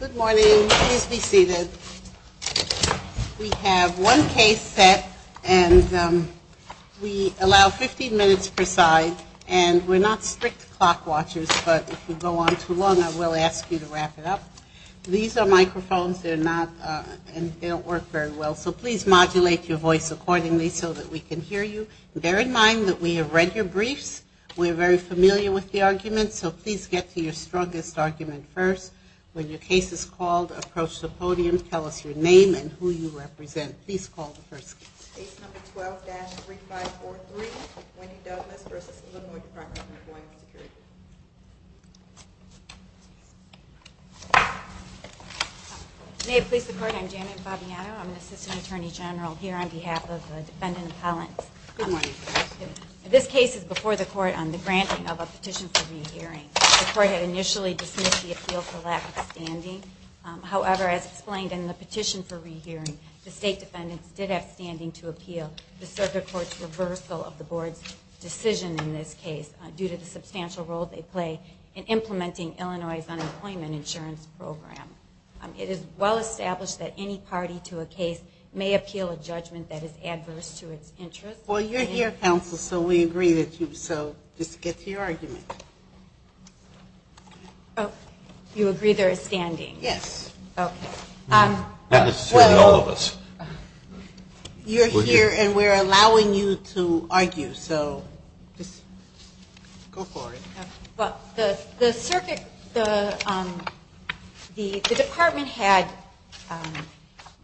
Good morning. Please be seated. We have one case set, and we allow 15 minutes per side, and we're not strict clock watchers, but if we go on too long, I will ask you to wrap it up. These are microphones. They're not, they don't work very well, so please modulate your voice accordingly so that we can hear you. Bear in mind that we have read your briefs. We're very familiar with the arguments, so please get to your strongest argument first. When your case is called, approach the podium, tell us your name and who you represent. Please call the first case. Case number 12-3543, Wendy Douglas v. Illinois Department of Employment Security. May it please the Court, I'm Janet Fabiano. I'm the Assistant Attorney General here on behalf of the defendant, Collins. This case is before the Court on the granting of a petition for rehearing. The Court had initially dismissed the appeal for lack of standing. However, as explained in the petition for rehearing, the State defendants did have standing to appeal the Circuit Court's reversal of the Board's decision in this case due to the substantial role they play in implementing Illinois' unemployment insurance program. It is well established that any party to a case may appeal a judgment that is adverse to its interests. Well, you're here, counsel, so we agree with you, so just get to your argument. Oh, you agree there is standing? Yes. Okay. Not necessarily all of us. You're here and we're allowing you to argue, so just go for it. Well, the Circuit, the Department had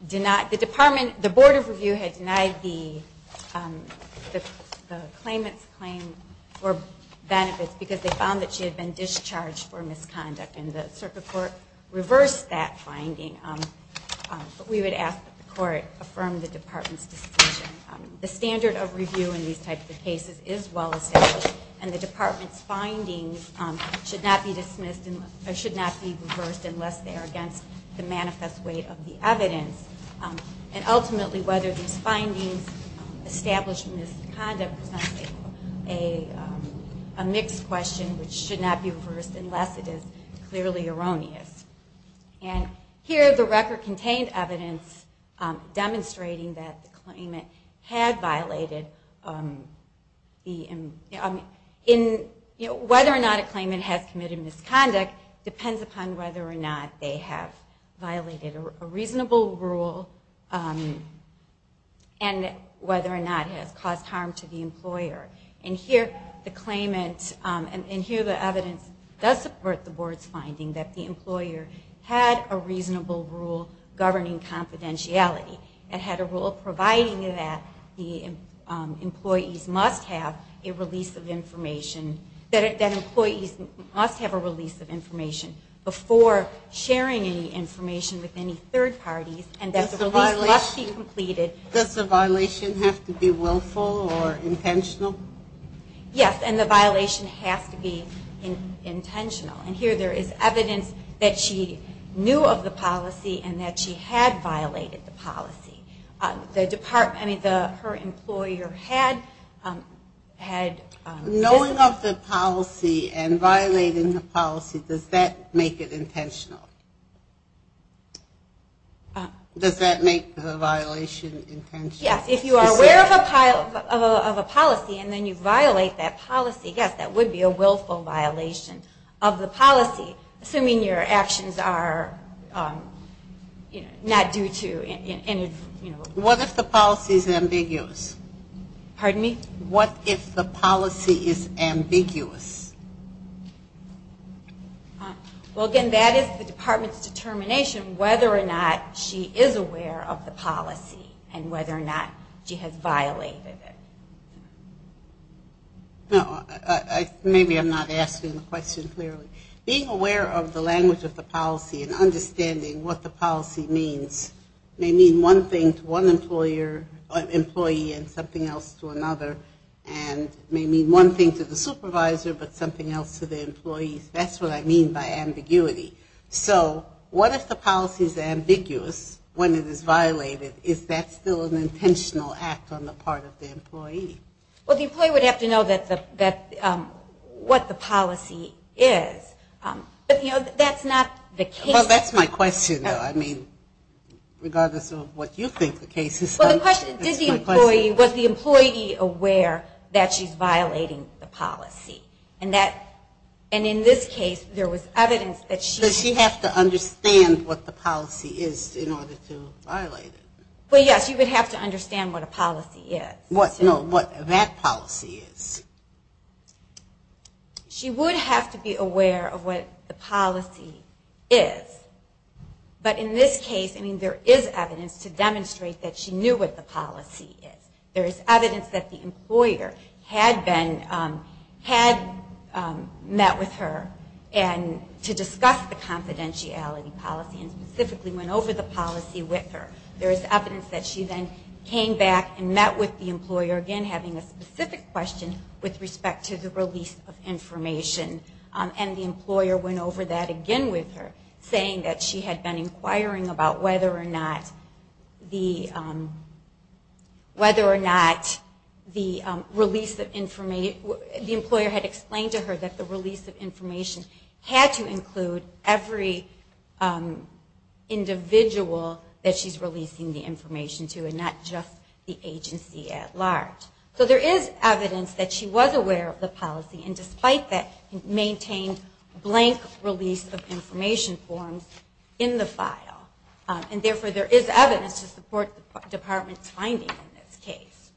denied, the Department, the Board of Review had denied the claimant's claim for benefits because they found that she had been discharged for misconduct and the Circuit Court reversed that finding. We would ask that the Court affirm the Department's decision. The standard of review in these types of cases is well established, and the Department's findings should not be reversed unless they are against the manifest weight of the evidence. And ultimately, whether these findings establish misconduct is not a mixed question, which should not be reversed unless it is clearly erroneous. And here the record contained evidence demonstrating that the claimant had violated, whether or not a claimant has committed misconduct depends upon whether or not they have violated a reasonable rule and whether or not it has caused harm to the employer. And here the claimant, and here the evidence does support the Board's finding that the employer had a reasonable rule governing confidentiality and had a rule providing that the employees must have a release of information, that employees must have a release of information before sharing any information with any third parties and that the release must be completed. Does the violation have to be willful or intentional? Yes, and the violation has to be intentional. And here there is evidence that she knew of the policy and that she had violated the policy. The Department, I mean, her employer had... Knowing of the policy and violating the policy, does that make it intentional? Does that make the violation intentional? Yes, if you are aware of a policy and then you violate that policy, yes, that would be a willful violation of the policy, assuming your actions are not due to... What if the policy is ambiguous? Pardon me? What if the policy is ambiguous? Well, again, that is the Department's determination whether or not she is aware of the policy and whether or not she has violated it. No, maybe I'm not asking the question clearly. Being aware of the language of the policy and understanding what the policy means may mean one thing to one employee and something else to another and may mean one thing to the supervisor and something else to the employer. That's what I mean by ambiguity. So what if the policy is ambiguous when it is violated? Is that still an intentional act on the part of the employee? Well, the employee would have to know what the policy is. But, you know, that's not the case. Well, that's my question, though. I mean, regardless of what you think the case is. Well, the question is, was the employee aware that she's violating the policy? And in this case, there was evidence that she... Does she have to understand what the policy is in order to violate it? Well, yes, you would have to understand what a policy is. No, what that policy is. She would have to be aware of what the policy is. But in this case, I mean, there is evidence to demonstrate that she knew what the policy is. There is evidence that the employer had met with her to discuss the confidentiality policy and specifically went over the policy with her. There is evidence that she then came back and met with the employer, again, having a specific question with respect to the release of information. And the employer went over that again with her, saying that she had been inquiring about whether or not the release of information... The employer had explained to her that the release of information had to include every individual that she's releasing the information to and not just the agency at large. So there is evidence that she was aware of the policy. And despite that, maintained blank release of information forms in the file. And therefore, there is evidence to support the department's finding in this case.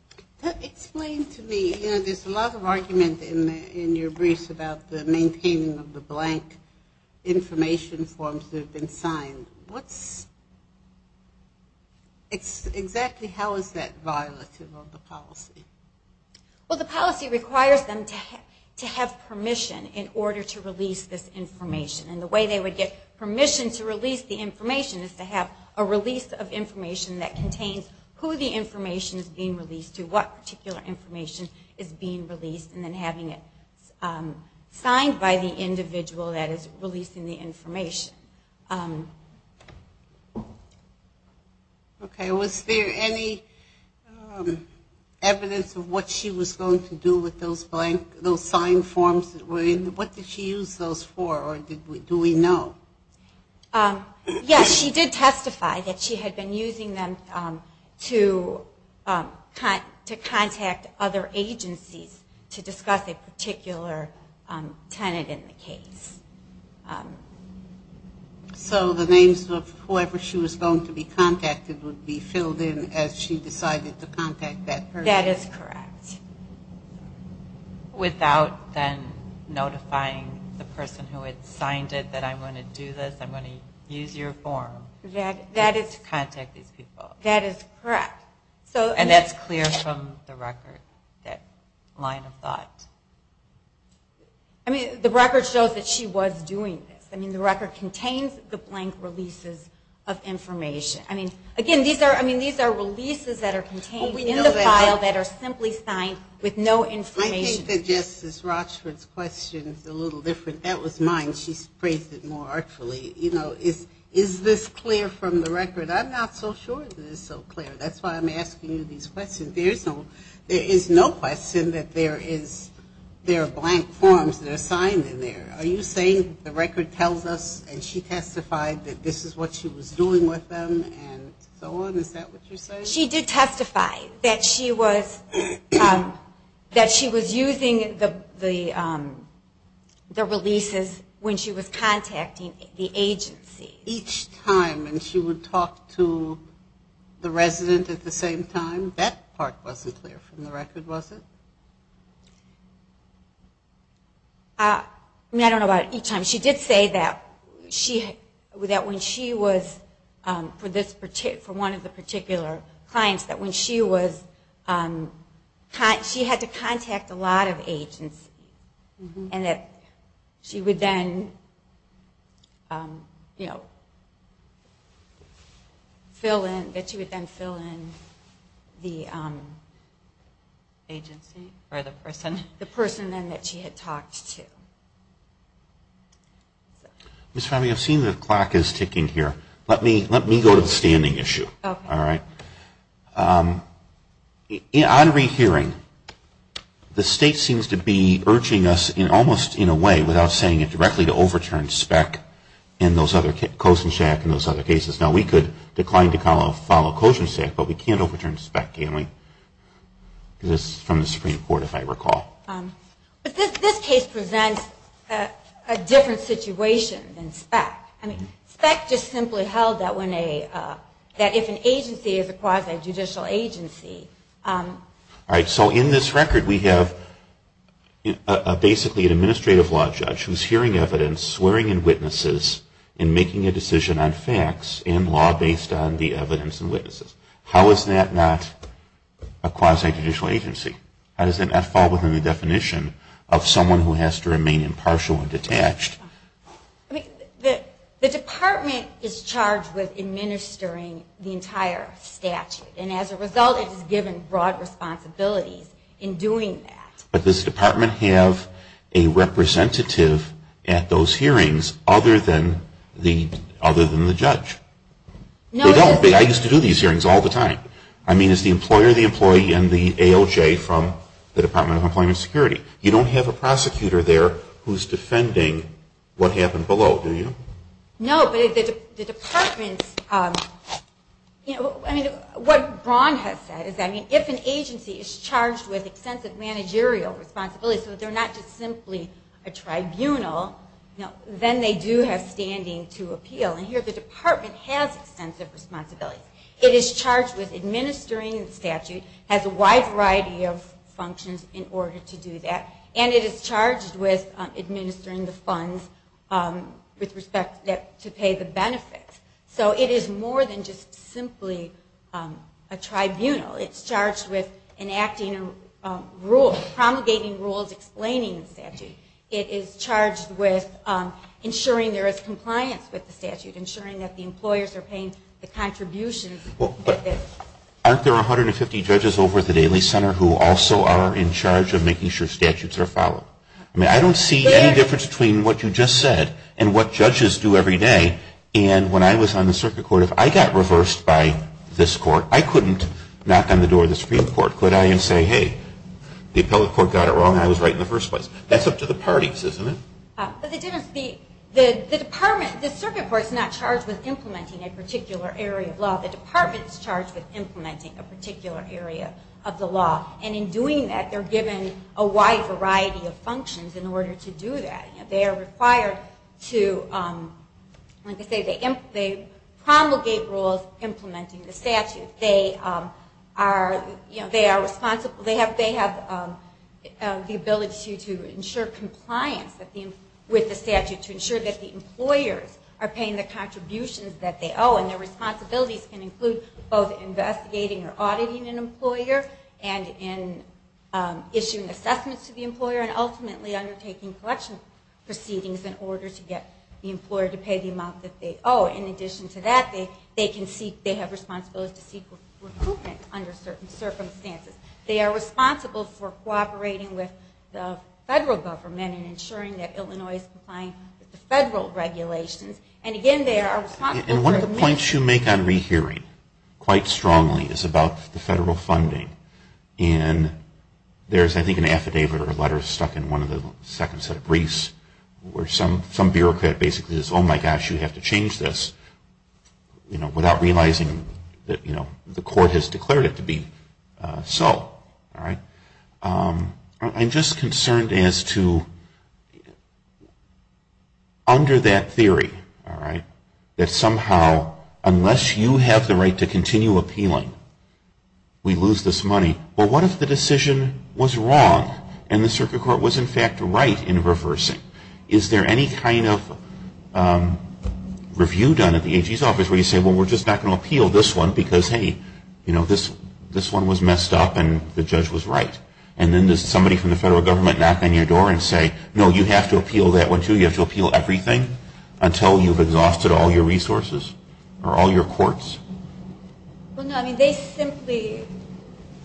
Explain to me, you know, there's a lot of argument in your briefs about the maintaining of the blank information forms that have been signed. What's... Exactly how is that violative of the policy? Well, the policy requires them to have permission in order to release this information. And the way they would get permission to release the information is to have a release of information that contains who the information is being released to, what particular information is being released, and then having it signed by the individual that is releasing the information. Okay. Was there any evidence of what she was going to do with those blank... those signed forms that were in... What did she use those for? Or do we know? Yes, she did testify that she had been using them to contact other agencies to discuss a particular tenant in the case. So the names of whoever she was going to be contacted would be filled in as she decided to contact that person? That is correct. Without then notifying the person who had signed it that I'm going to do this, I'm going to use your form to contact these people? That is correct. And that's clear from the record, that line of thought? I mean, the record shows that she was doing this. I mean, the record contains the blank releases of information. I mean, again, these are releases that are contained in the file that are simply signed with no information. I think that Justice Rochford's question is a little different. That was mine. She phrased it more artfully. You know, is this clear from the record? I'm not so sure that it's so clear. That's why I'm asking you these questions. There is no question that there are blank forms that are signed in there. Are you saying the record tells us and she testified that this is what she was doing with them and so on? Is that what you're saying? She did testify that she was using the releases when she was contacting the agency. And she would talk to the resident at the same time? That part wasn't clear from the record, was it? I mean, I don't know about each time. She did say that when she was, for one of the particular clients, that when she was, she had to contact a lot of agencies and that she would then, you know, fill in, that she would then fill in the agency? Or the person. The person then that she had talked to. Ms. Fabbio, I've seen the clock is ticking here. Let me go to the standing issue. All right. On rehearing, the state seems to be urging us, almost in a way, without saying it directly, to overturn SPEC and those other, COSENSHAC and those other cases. Now, we could decline to follow COSENSHAC, but we can't overturn SPEC, can we? Because it's from the Supreme Court, if I recall. But this case presents a different situation than SPEC. I mean, SPEC just simply held that when a, that if an agency is a quasi-judicial agency. All right. So in this record, we have basically an administrative law judge who's hearing evidence, swearing in witnesses, and making a decision on facts and law based on the evidence and witnesses. How is that not a quasi-judicial agency? How does that not fall within the definition of someone who has to remain impartial and detached? I mean, the department is charged with administering the entire statute. And as a result, it is given broad responsibilities in doing that. But does the department have a representative at those hearings other than the judge? They don't. I used to do these hearings all the time. I mean, is the employer the employee and the ALJ from the Department of Employment and Security? You don't have a prosecutor there who's defending what happened below, do you? No, but the department's, you know, I mean, what Ron has said is, I mean, if an agency is charged with extensive managerial responsibilities, so they're not just simply a tribunal, then they do have standing to appeal. And here the department has extensive responsibilities. It is charged with administering the statute, has a wide variety of functions in order to do that, and it is charged with administering the funds with respect to pay the benefits. So it is more than just simply a tribunal. It's charged with enacting rules, promulgating rules, explaining the statute. It is charged with ensuring there is compliance with the statute, ensuring that the employers are paying the contributions. But aren't there 150 judges over at the Daly Center who also are in charge of making sure statutes are followed? I mean, I don't see any difference between what you just said and what judges do every day. And when I was on the circuit court, if I got reversed by this court, I couldn't knock on the door of the Supreme Court, could I, and say, hey, the appellate court got it wrong and I was right in the first place. That's up to the parties, isn't it? But the department, the circuit court's not charged with implementing a particular area of law. The department is charged with implementing a particular area of the law. And in doing that, they're given a wide variety of functions in order to do that. They are required to, like I say, they promulgate rules implementing the statute. They are responsible, they have the ability to ensure compliance with the statute, to ensure that the employers are paying the contributions that they owe and their responsibilities can include both investigating or auditing an employer and issuing assessments to the employer and ultimately undertaking collection proceedings in order to get the employer to pay the amount that they owe. In addition to that, they have responsibilities to seek recoupment under certain circumstances. They are responsible for cooperating with the federal government and ensuring that Illinois is complying with the federal regulations. And one of the points you make on rehearing quite strongly is about the federal funding. And there's, I think, an affidavit or a letter stuck in one of the second set of briefs where some bureaucrat basically says, oh, my gosh, you have to change this, you know, without realizing that, you know, the court has declared it to be so. All right. I'm just concerned as to under that theory, all right, that somehow unless you have the right to continue appealing, we lose this money. Well, what if the decision was wrong and the circuit court was, in fact, right in reversing? Is there any kind of review done at the AG's office where you say, well, we're just not going to appeal this one because, hey, you know, this one was messed up and the judge was right. And then does somebody from the federal government knock on your door and say, no, you have to appeal that one, too, you have to appeal everything until you've exhausted all your resources or all your courts? Well, no. I mean, they simply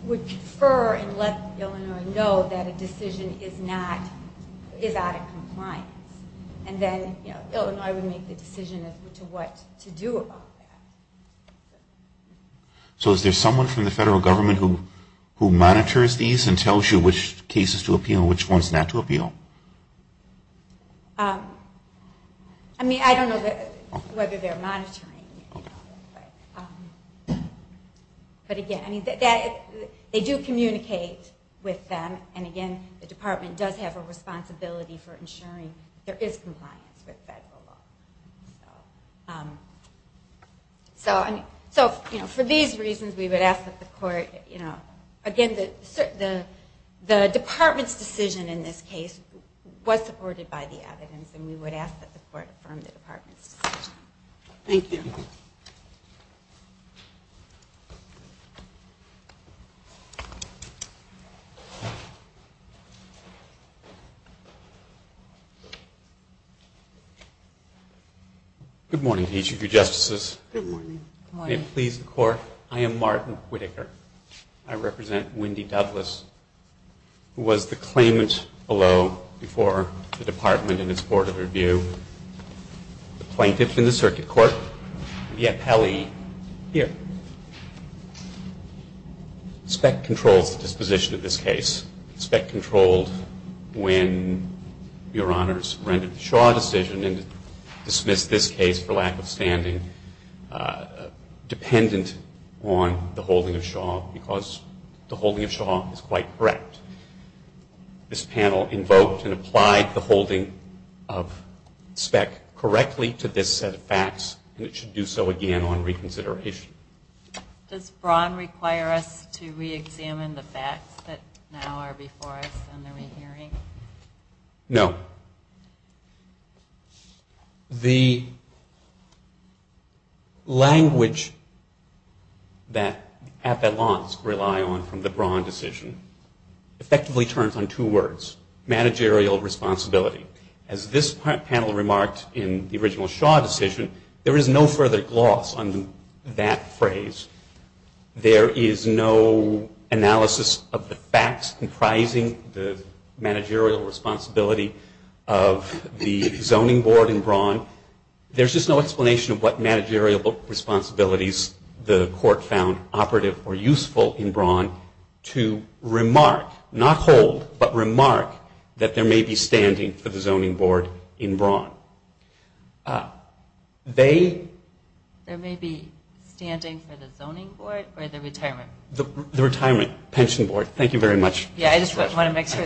would prefer and let Illinois know that a decision is not, is out of compliance. And then, you know, Illinois would make the decision as to what to do about that. So is there someone from the federal government who monitors these and tells you which cases to appeal and which ones not to appeal? I mean, I don't know whether they're monitoring. But, again, I mean, they do communicate with them, and, again, the department does have a responsibility for ensuring there is compliance with federal law. So, you know, for these reasons we would ask that the court, you know, again, the department's decision in this case was supported by the evidence, and we would ask that the court affirm the department's decision. Thank you. Good morning to each of you, Justices. Good morning. Good morning. May it please the Court, I am Martin Whitaker. I represent Wendy Douglas, who was the claimant below before the department and its Board of Review, the plaintiff in the circuit court, and yet Pelley here. The spec controls the disposition of this case. The spec controlled when Your Honors rendered the Shaw decision and dismissed this case for lack of standing dependent on the holding of Shaw because the holding of Shaw is quite correct. This panel invoked and applied the holding of spec correctly to this set of facts, and it should do so again on reconsideration. Does Braun require us to reexamine the facts that now are before us and that we're hearing? No. The language that appellants rely on from the Braun decision effectively turns on two words, managerial responsibility. As this panel remarked in the original Shaw decision, there is no further gloss on that phrase. There is no analysis of the facts comprising the managerial responsibility of the zoning board in Braun. There's just no explanation of what managerial responsibilities the court found operative or useful in Braun to remark, not hold, but remark that there may be standing for the zoning board in Braun. There may be standing for the zoning board or the retirement? The retirement pension board. Thank you very much. Yeah, I just want to make sure.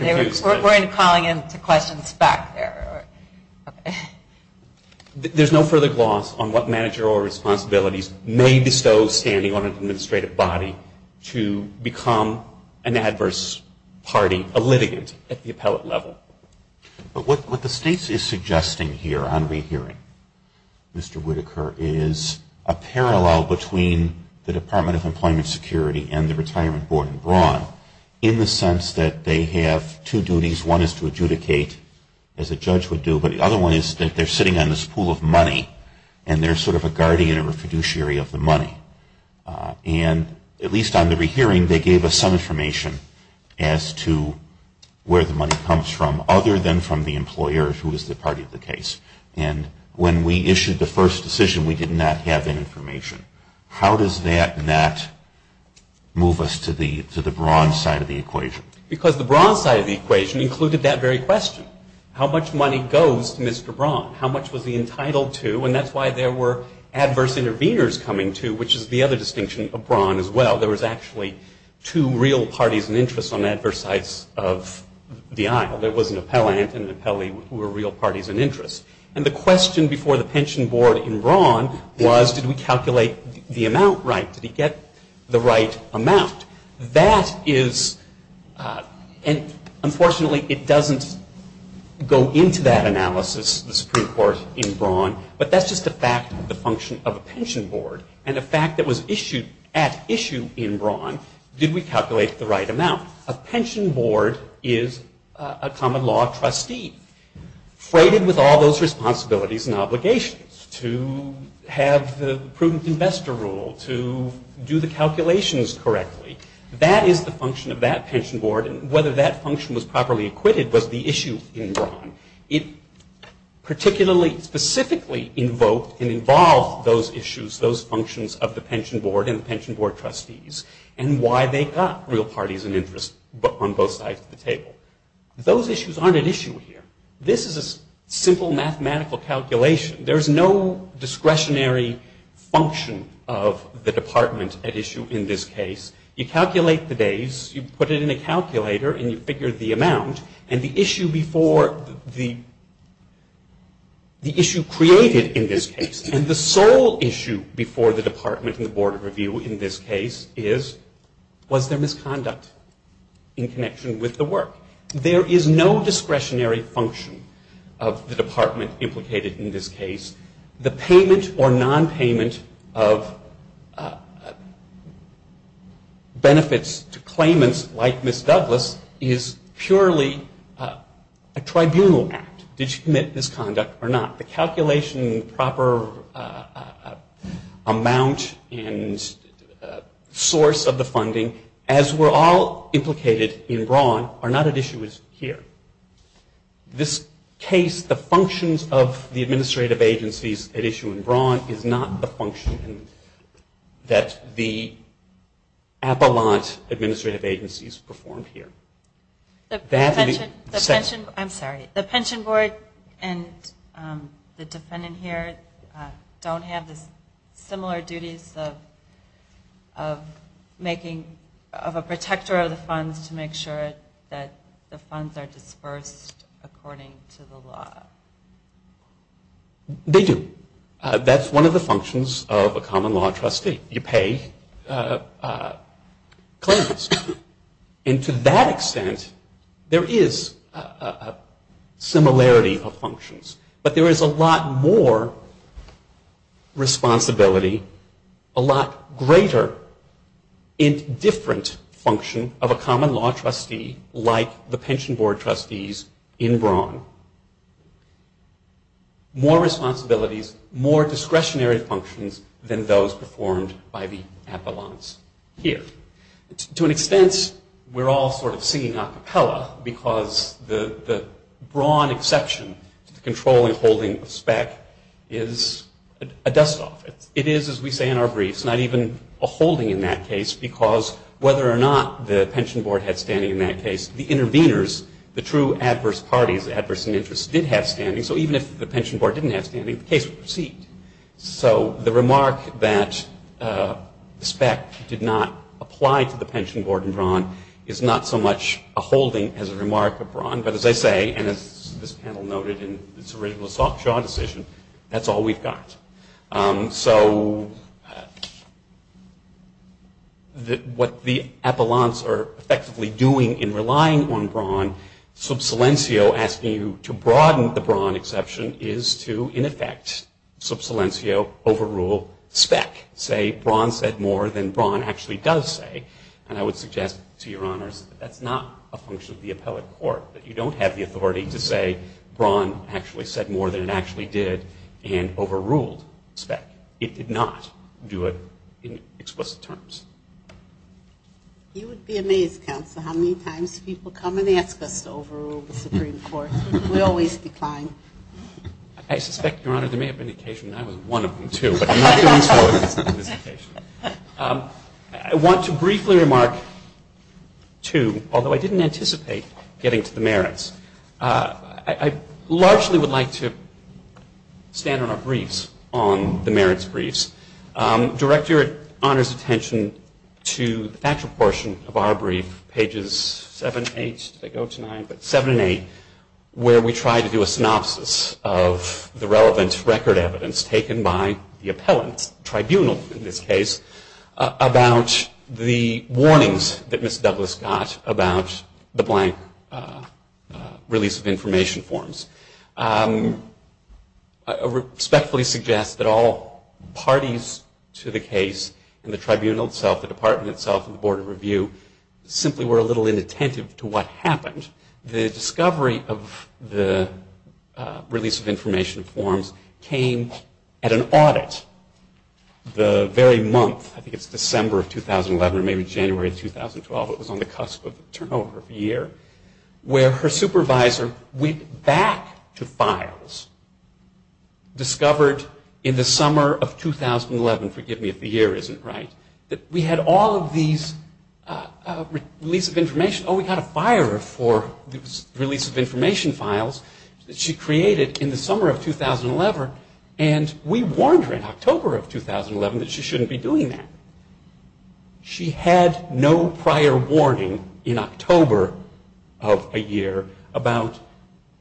We're calling into questions back there. There's no further gloss on what managerial responsibilities may bestow standing on an administrative body to become an adverse party, a litigant at the appellate level. But what the state is suggesting here on rehearing, Mr. Whitaker, is a parallel between the Department of Employment Security and the retirement board in Braun in the sense that they have two duties. One is to adjudicate, as a judge would do, but the other one is that they're sitting on this pool of money and they're sort of a guardian or a fiduciary of the money. And at least on the rehearing, they gave us some information as to where the money comes from, other than from the employer, who is the party of the case. And when we issued the first decision, we did not have that information. How does that not move us to the Braun side of the equation? Because the Braun side of the equation included that very question, how much money goes to Mr. Braun? How much was he entitled to? And that's why there were adverse interveners coming to, which is the other distinction of Braun as well. There was actually two real parties in interest on adverse sides of the aisle. There was an appellant and an appellee who were real parties in interest. And the question before the pension board in Braun was, did we calculate the amount right? Did he get the right amount? That is, and unfortunately it doesn't go into that analysis, the Supreme Court in Braun, but that's just a fact of the function of a pension board. And a fact that was issued at issue in Braun, did we calculate the right amount? A pension board is a common law trustee, freighted with all those responsibilities and obligations to have the prudent investor rule, to do the calculations correctly. That is the function of that pension board, and whether that function was properly acquitted was the issue in Braun. It particularly, specifically invoked and involved those issues, those functions of the pension board and the pension board trustees, and why they got real parties in interest on both sides of the table. Those issues aren't at issue here. This is a simple mathematical calculation. There is no discretionary function of the department at issue in this case. You calculate the days, you put it in a calculator, and you figure the amount, and the issue before the, the issue created in this case, and the sole issue before the department and the board of review in this case is, was there misconduct in connection with the work? There is no discretionary function of the department implicated in this case. The payment or nonpayment of benefits to claimants like Ms. Douglas is purely a tribunal act. Did she commit misconduct or not? The calculation proper amount and source of the funding, as were all implicated in Braun, are not at issue here. This case, the functions of the administrative agencies at issue in Braun, is not the function that the Appalachian administrative agencies performed here. The pension board and the defendant here don't have the similar duties of making, of a protector of the funds to make sure that the funds are dispersed according to the law. They do. That's one of the functions of a common law trustee. You pay claimants. But there is a lot more responsibility, a lot greater in different function of a common law trustee like the pension board trustees in Braun. More responsibilities, more discretionary functions than those performed by the appellants here. To an extent, we're all sort of singing a cappella because the Braun exception to the controlling holding of SPEC is a dust off. It is, as we say in our briefs, not even a holding in that case because whether or not the pension board had standing in that case, the interveners, the true adverse parties, the adverse in interest, did have standing. So even if the pension board didn't have standing, the case would proceed. So the remark that SPEC did not apply to the pension board in Braun is not so much a holding as a remark of Braun. But as I say, and as this panel noted in its original soft jaw decision, that's all we've got. So what the appellants are effectively doing in relying on Braun, sub silencio asking you to broaden the Braun exception is to, in effect, sub silencio overrule SPEC. Say, Braun said more than Braun actually does say. And I would suggest to your honors that that's not a function of the appellate court that you don't have the authority to say Braun actually said more than it actually did and overruled SPEC. It did not do it in explicit terms. You would be amazed, counsel, how many times people come and ask us to overrule the Supreme Court. We always decline. I suspect, Your Honor, there may have been an occasion when I was one of them, too. But I'm not doing so in this case. I want to briefly remark, too, although I didn't anticipate getting to the merits, I largely would like to stand on our briefs, on the merits briefs. Director, it honors attention to the factual portion of our brief, pages 7 and 8, where we try to do a synopsis of the relevant record evidence taken by the appellant tribunal, in this case, about the warnings that Ms. Douglas got about the blank release of information forms. I respectfully suggest that all parties to the case and the tribunal itself, the department itself, and the Board of Review simply were a little inattentive to what happened. The discovery of the release of information forms came at an audit the very month, I think it's December of 2011 or maybe January of 2012, it was on the cusp of the turnover of the year, where her supervisor went back to files, discovered in the summer of 2011, forgive me if the year isn't right, that we had all of these releases of information. Oh, we got a fire for the release of information files that she created in the summer of 2011, and we warned her in October of 2011 that she shouldn't be doing that. She had no prior warning in October of a year about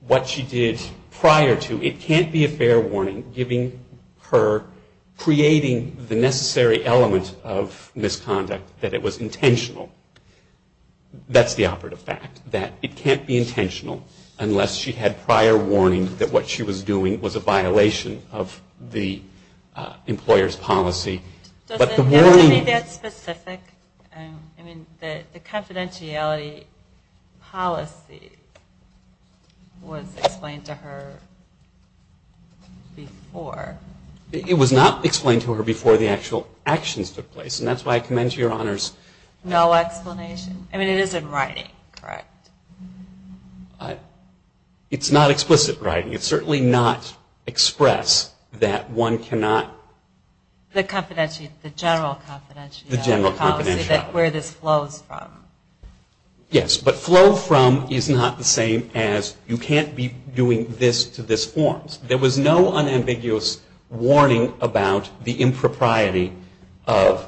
what she did prior to. It can't be a fair warning, giving her, creating the necessary element of misconduct that it was intentional. That's the operative fact, that it can't be intentional unless she had prior warning that what she was doing was a violation of the employer's policy. Does it have to be that specific? I mean, the confidentiality policy was explained to her before. It was not explained to her before the actual actions took place, and that's why I commend to your honors. No explanation? I mean, it is in writing, correct? It's not explicit writing. It's certainly not express that one cannot. The confidentiality, the general confidentiality. The general confidentiality. Where this flows from. Yes, but flow from is not the same as you can't be doing this to this forms. There was no unambiguous warning about the impropriety of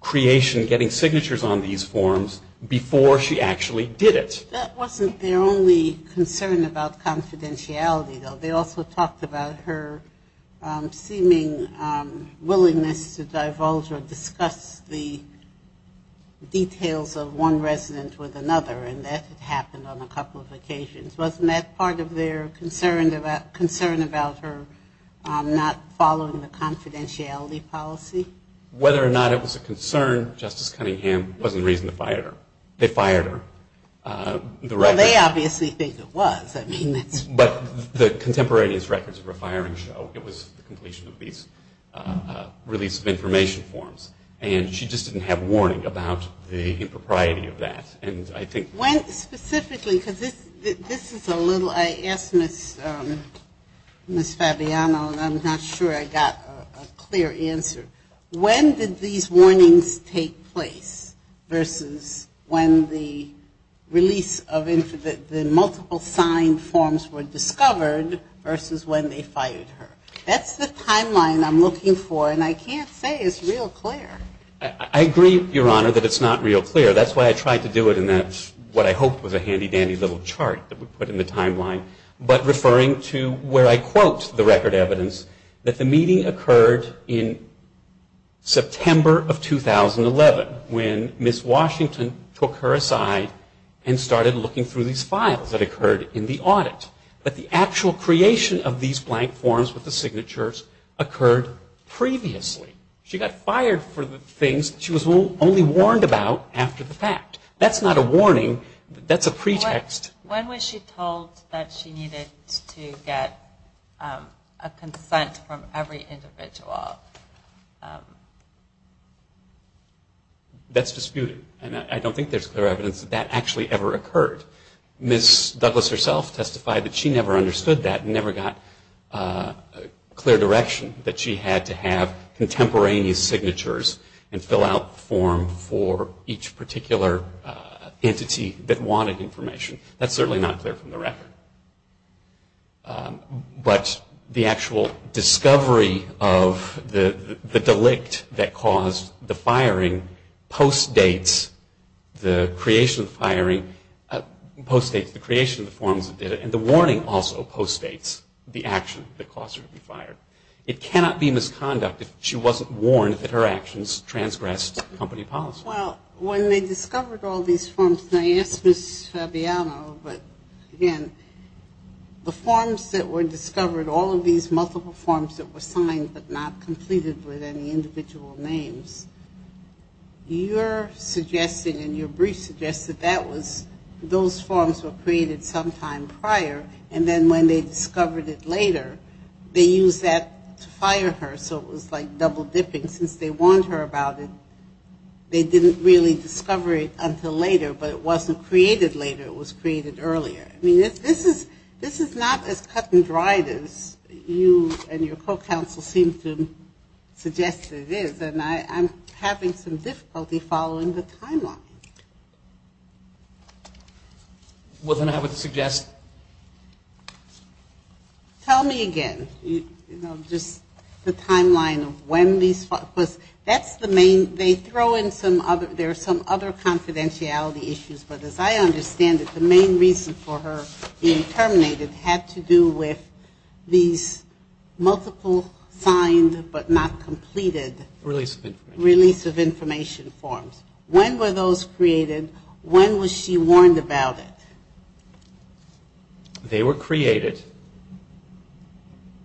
creation, getting signatures on these forms, before she actually did it. That wasn't their only concern about confidentiality, though. They also talked about her seeming willingness to divulge or discuss the details of one resident with another, Wasn't that part of their concern about her not following the confidentiality policy? Whether or not it was a concern, Justice Cunningham wasn't the reason to fire her. They fired her. Well, they obviously think it was. But the contemporaneous records of her firing show, it was the completion of these release of information forms. And she just didn't have warning about the impropriety of that. Specifically, because this is a little, I asked Ms. Fabiano, and I'm not sure I got a clear answer. When did these warnings take place versus when the release of the multiple sign forms were discovered versus when they fired her? That's the timeline I'm looking for, and I can't say it's real clear. I agree, Your Honor, that it's not real clear. That's why I tried to do it in what I hoped was a handy dandy little chart that we put in the timeline. But referring to where I quote the record evidence, that the meeting occurred in September of 2011, when Ms. Washington took her aside and started looking through these files that occurred in the audit. But the actual creation of these blank forms with the signatures occurred previously. She got fired for the things she was only warned about after the fact. That's not a warning. That's a pretext. When was she told that she needed to get a consent from every individual? That's disputed, and I don't think there's clear evidence that that actually ever occurred. Ms. Douglas herself testified that she never understood that and never got clear direction, that she had to have contemporaneous signatures and fill out the form for each particular entity that wanted information. That's certainly not clear from the record. But the actual discovery of the delict that caused the firing postdates the creation of the firing, postdates the creation of the forms that did it, and the warning also postdates the action that caused her to be fired. It cannot be misconduct if she wasn't warned that her actions transgressed company policy. Well, when they discovered all these forms, and I asked Ms. Fabiano, but again, the forms that were discovered, all of these multiple forms that were signed but not completed with any individual names, you're suggesting and your brief suggests that that was, those forms were created sometime prior, and then when they discovered it later, they used that to fire her, so it was like double-dipping. Since they warned her about it, they didn't really discover it until later, but it wasn't created later. It was created earlier. I mean, this is not as cut and dried as you and your co-counsel seem to suggest it is, and I'm having some difficulty following the timeline. Well, then I would suggest. Tell me again, you know, just the timeline of when these, because that's the main, they throw in some other, there are some other confidentiality issues, but as I understand it, the main reason for her being terminated had to do with these multiple signed but not completed. Release of information. Release of information forms. When were those created? When was she warned about it? They were created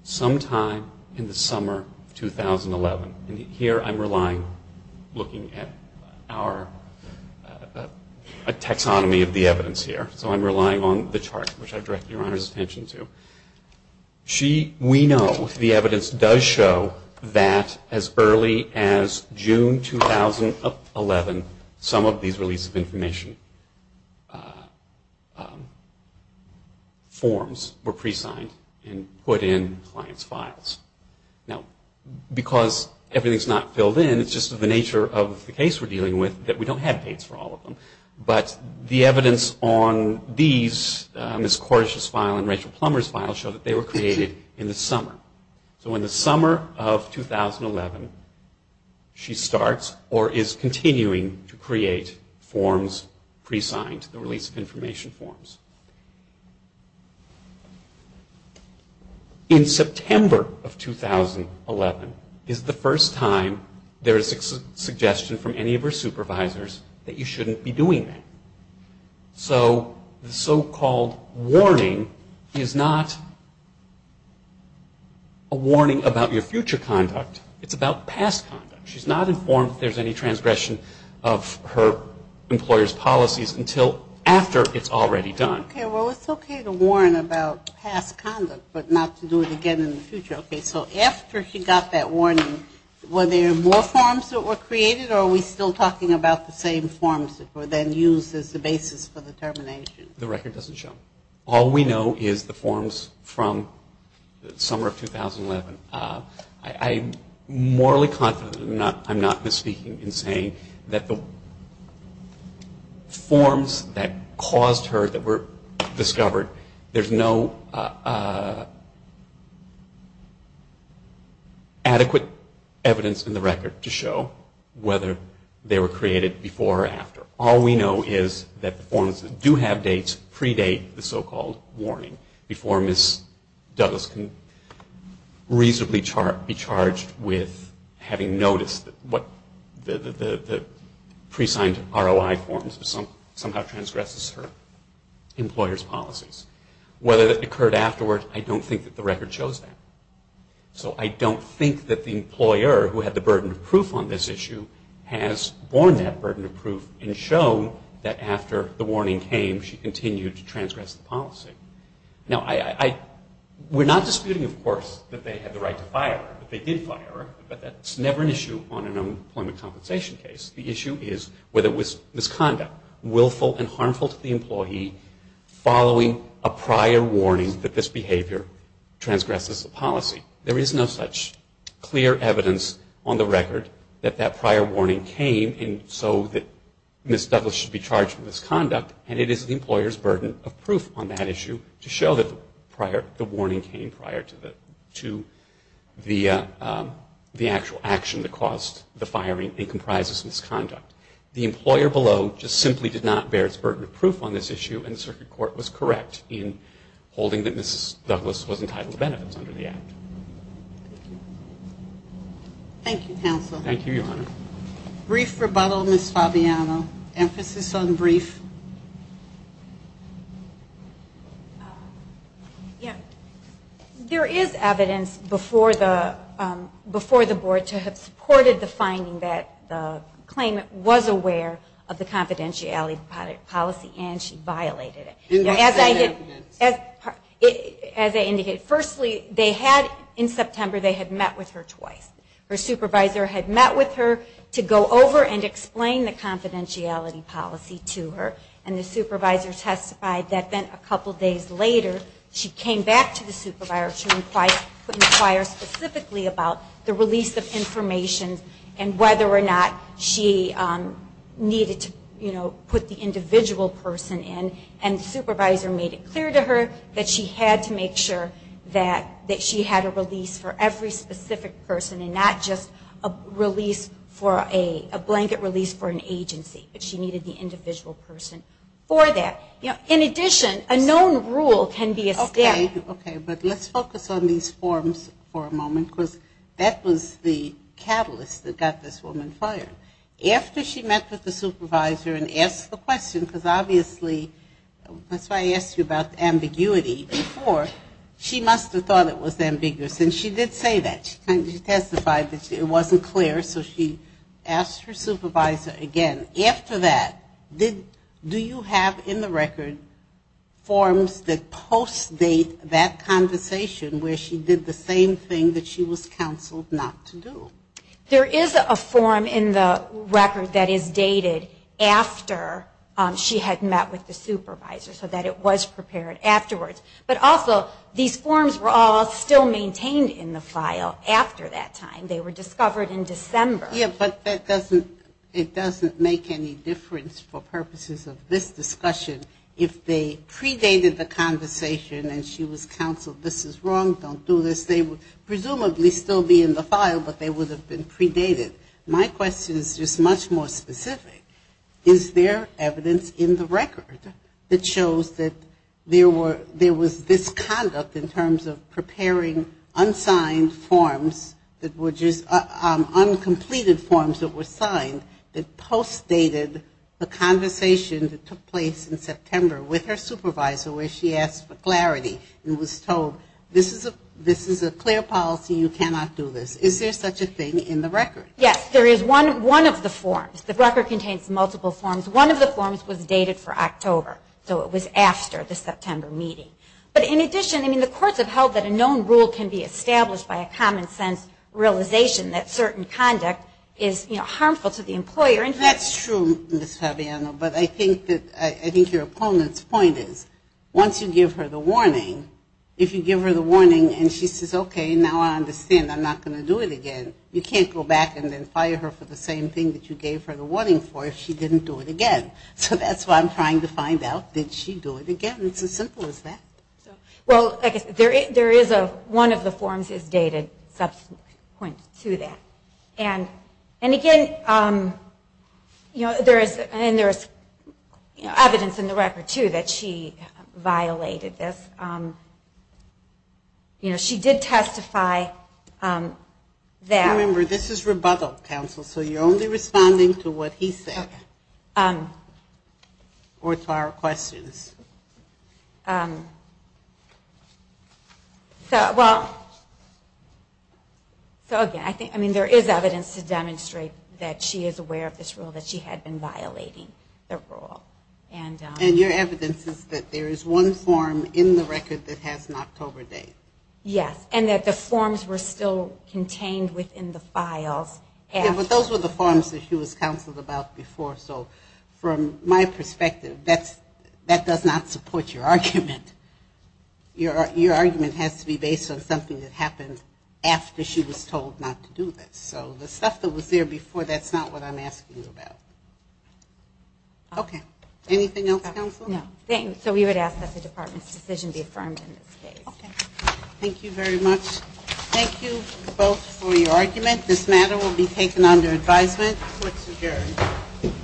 sometime in the summer of 2011, and here I'm relying, looking at our, a taxonomy of the evidence here, so I'm relying on the chart, which I direct Your Honor's attention to. She, we know, the evidence does show that as early as June 2011, some of these release of information forms were pre-signed and put in client's files. Now, because everything's not filled in, it's just the nature of the case we're dealing with, that we don't have dates for all of them, but the evidence on these, Ms. Cordish's file and Rachel Plummer's file, show that they were created in the summer. So in the summer of 2011, she starts or is continuing to create forms pre-signed, the release of information forms. In September of 2011 is the first time there is a suggestion from any of her supervisors that you shouldn't be doing that. So the so-called warning is not a warning about your future conduct. It's about past conduct. She's not informed if there's any transgression of her employer's policies until after it's already done. Okay, well, it's okay to warn about past conduct but not to do it again in the future. Okay, so after she got that warning, were there more forms that were created or are we still talking about the same forms that were then used as the basis for the termination? The record doesn't show. All we know is the forms from the summer of 2011. I'm morally confident, I'm not misspeaking in saying that the forms that caused her, that were discovered, there's no adequate evidence in the record to show whether they were created before or after. All we know is that the forms that do have dates predate the so-called warning before Ms. Douglas can reasonably be charged with having noticed what the pre-signed ROI forms somehow transgresses her employer's policies. Whether that occurred afterward, I don't think that the record shows that. So I don't think that the employer who had the burden of proof on this issue has borne that burden of proof and shown that after the warning came, she continued to transgress the policy. Now, we're not disputing, of course, that they had the right to fire her, but they did fire her, but that's never an issue on an unemployment compensation case. The issue is whether it was misconduct, willful and harmful to the employee, following a prior warning that this behavior transgresses the policy. There is no such clear evidence on the record that that prior warning came so that Ms. Douglas should be charged with misconduct, and it is the employer's burden of proof on that issue to show that the warning came prior to the actual action that caused the firing and comprises misconduct. The employer below just simply did not bear its burden of proof on this issue, and the Circuit Court was correct in holding that Ms. Douglas was entitled to benefits under the Act. Thank you, counsel. Thank you, Your Honor. Brief rebuttal, Ms. Fabiano. Emphasis on brief. There is evidence before the board to have supported the finding that the claimant was aware of the confidentiality policy and she violated it. As I indicated, firstly, in September they had met with her twice. Her supervisor had met with her to go over and explain the confidentiality policy to her, and the supervisor testified that a couple days later she came back to the supervisor to inquire specifically about the release of information and whether or not she needed to put the individual person in, and the supervisor made it clear to her that she had to make sure that she had a release for every specific person and not just a blanket release for an agency, but she needed the individual person for that. In addition, a known rule can be a step. Okay, but let's focus on these forms for a moment, because that was the catalyst that got this woman fired. After she met with the supervisor and asked the question, because obviously that's why I asked you about ambiguity before, she must have thought it was ambiguous. And she did say that. She testified that it wasn't clear, so she asked her supervisor again. After that, do you have in the record forms that post-date that conversation where she did the same thing that she was counseled not to do? There is a form in the record that is dated after she had met with the supervisor, so that it was prepared afterwards. But also, these forms were all still maintained in the file after that time. They were discovered in December. Yeah, but that doesn't make any difference for purposes of this discussion. If they predated the conversation and she was counseled this is wrong, don't do this, they would presumably still be in the file, but they would have been predated. My question is just much more specific. Is there evidence in the record that shows that there was this conduct in terms of preparing unsigned forms that were just uncompleted forms that were signed that post-dated the conversation that took place in September with her supervisor where she asked for clarity and was told this is a clear policy, you cannot do this. Is there such a thing in the record? Yes, there is one of the forms. The record contains multiple forms. One of the forms was dated for October, so it was after the September meeting. But in addition, the courts have held that a known rule can be established by a common sense realization that certain conduct is harmful to the employer. That's true, Ms. Fabiano, but I think your opponent's point is once you give her the warning, if you give her the warning and she says, okay, now I understand, I'm not going to do it again, you can't go back and then fire her for the same thing that you gave her the warning for if she didn't do it again. So that's what I'm trying to find out. Did she do it again? It's as simple as that. Well, there is one of the forms is dated subsequent to that. And again, there is evidence in the record, too, that she violated this. You know, she did testify that. Remember, this is rebuttal, counsel, so you're only responding to what he said or to our questions. So again, I mean, there is evidence to demonstrate that she is aware of this rule, that she had been violating the rule. And your evidence is that there is one form in the record that has an October date. Yes, and that the forms were still contained within the files. Yeah, but those were the forms that she was counseled about before, so from my perspective, that does not support your argument. Your argument has to be based on something that happened after she was told not to do this. So the stuff that was there before, that's not what I'm asking you about. Okay. Anything else, counsel? No. So we would ask that the department's decision be affirmed in this case. Okay. Thank you very much. Thank you both for your argument. This matter will be taken under advisement. Court's adjourned.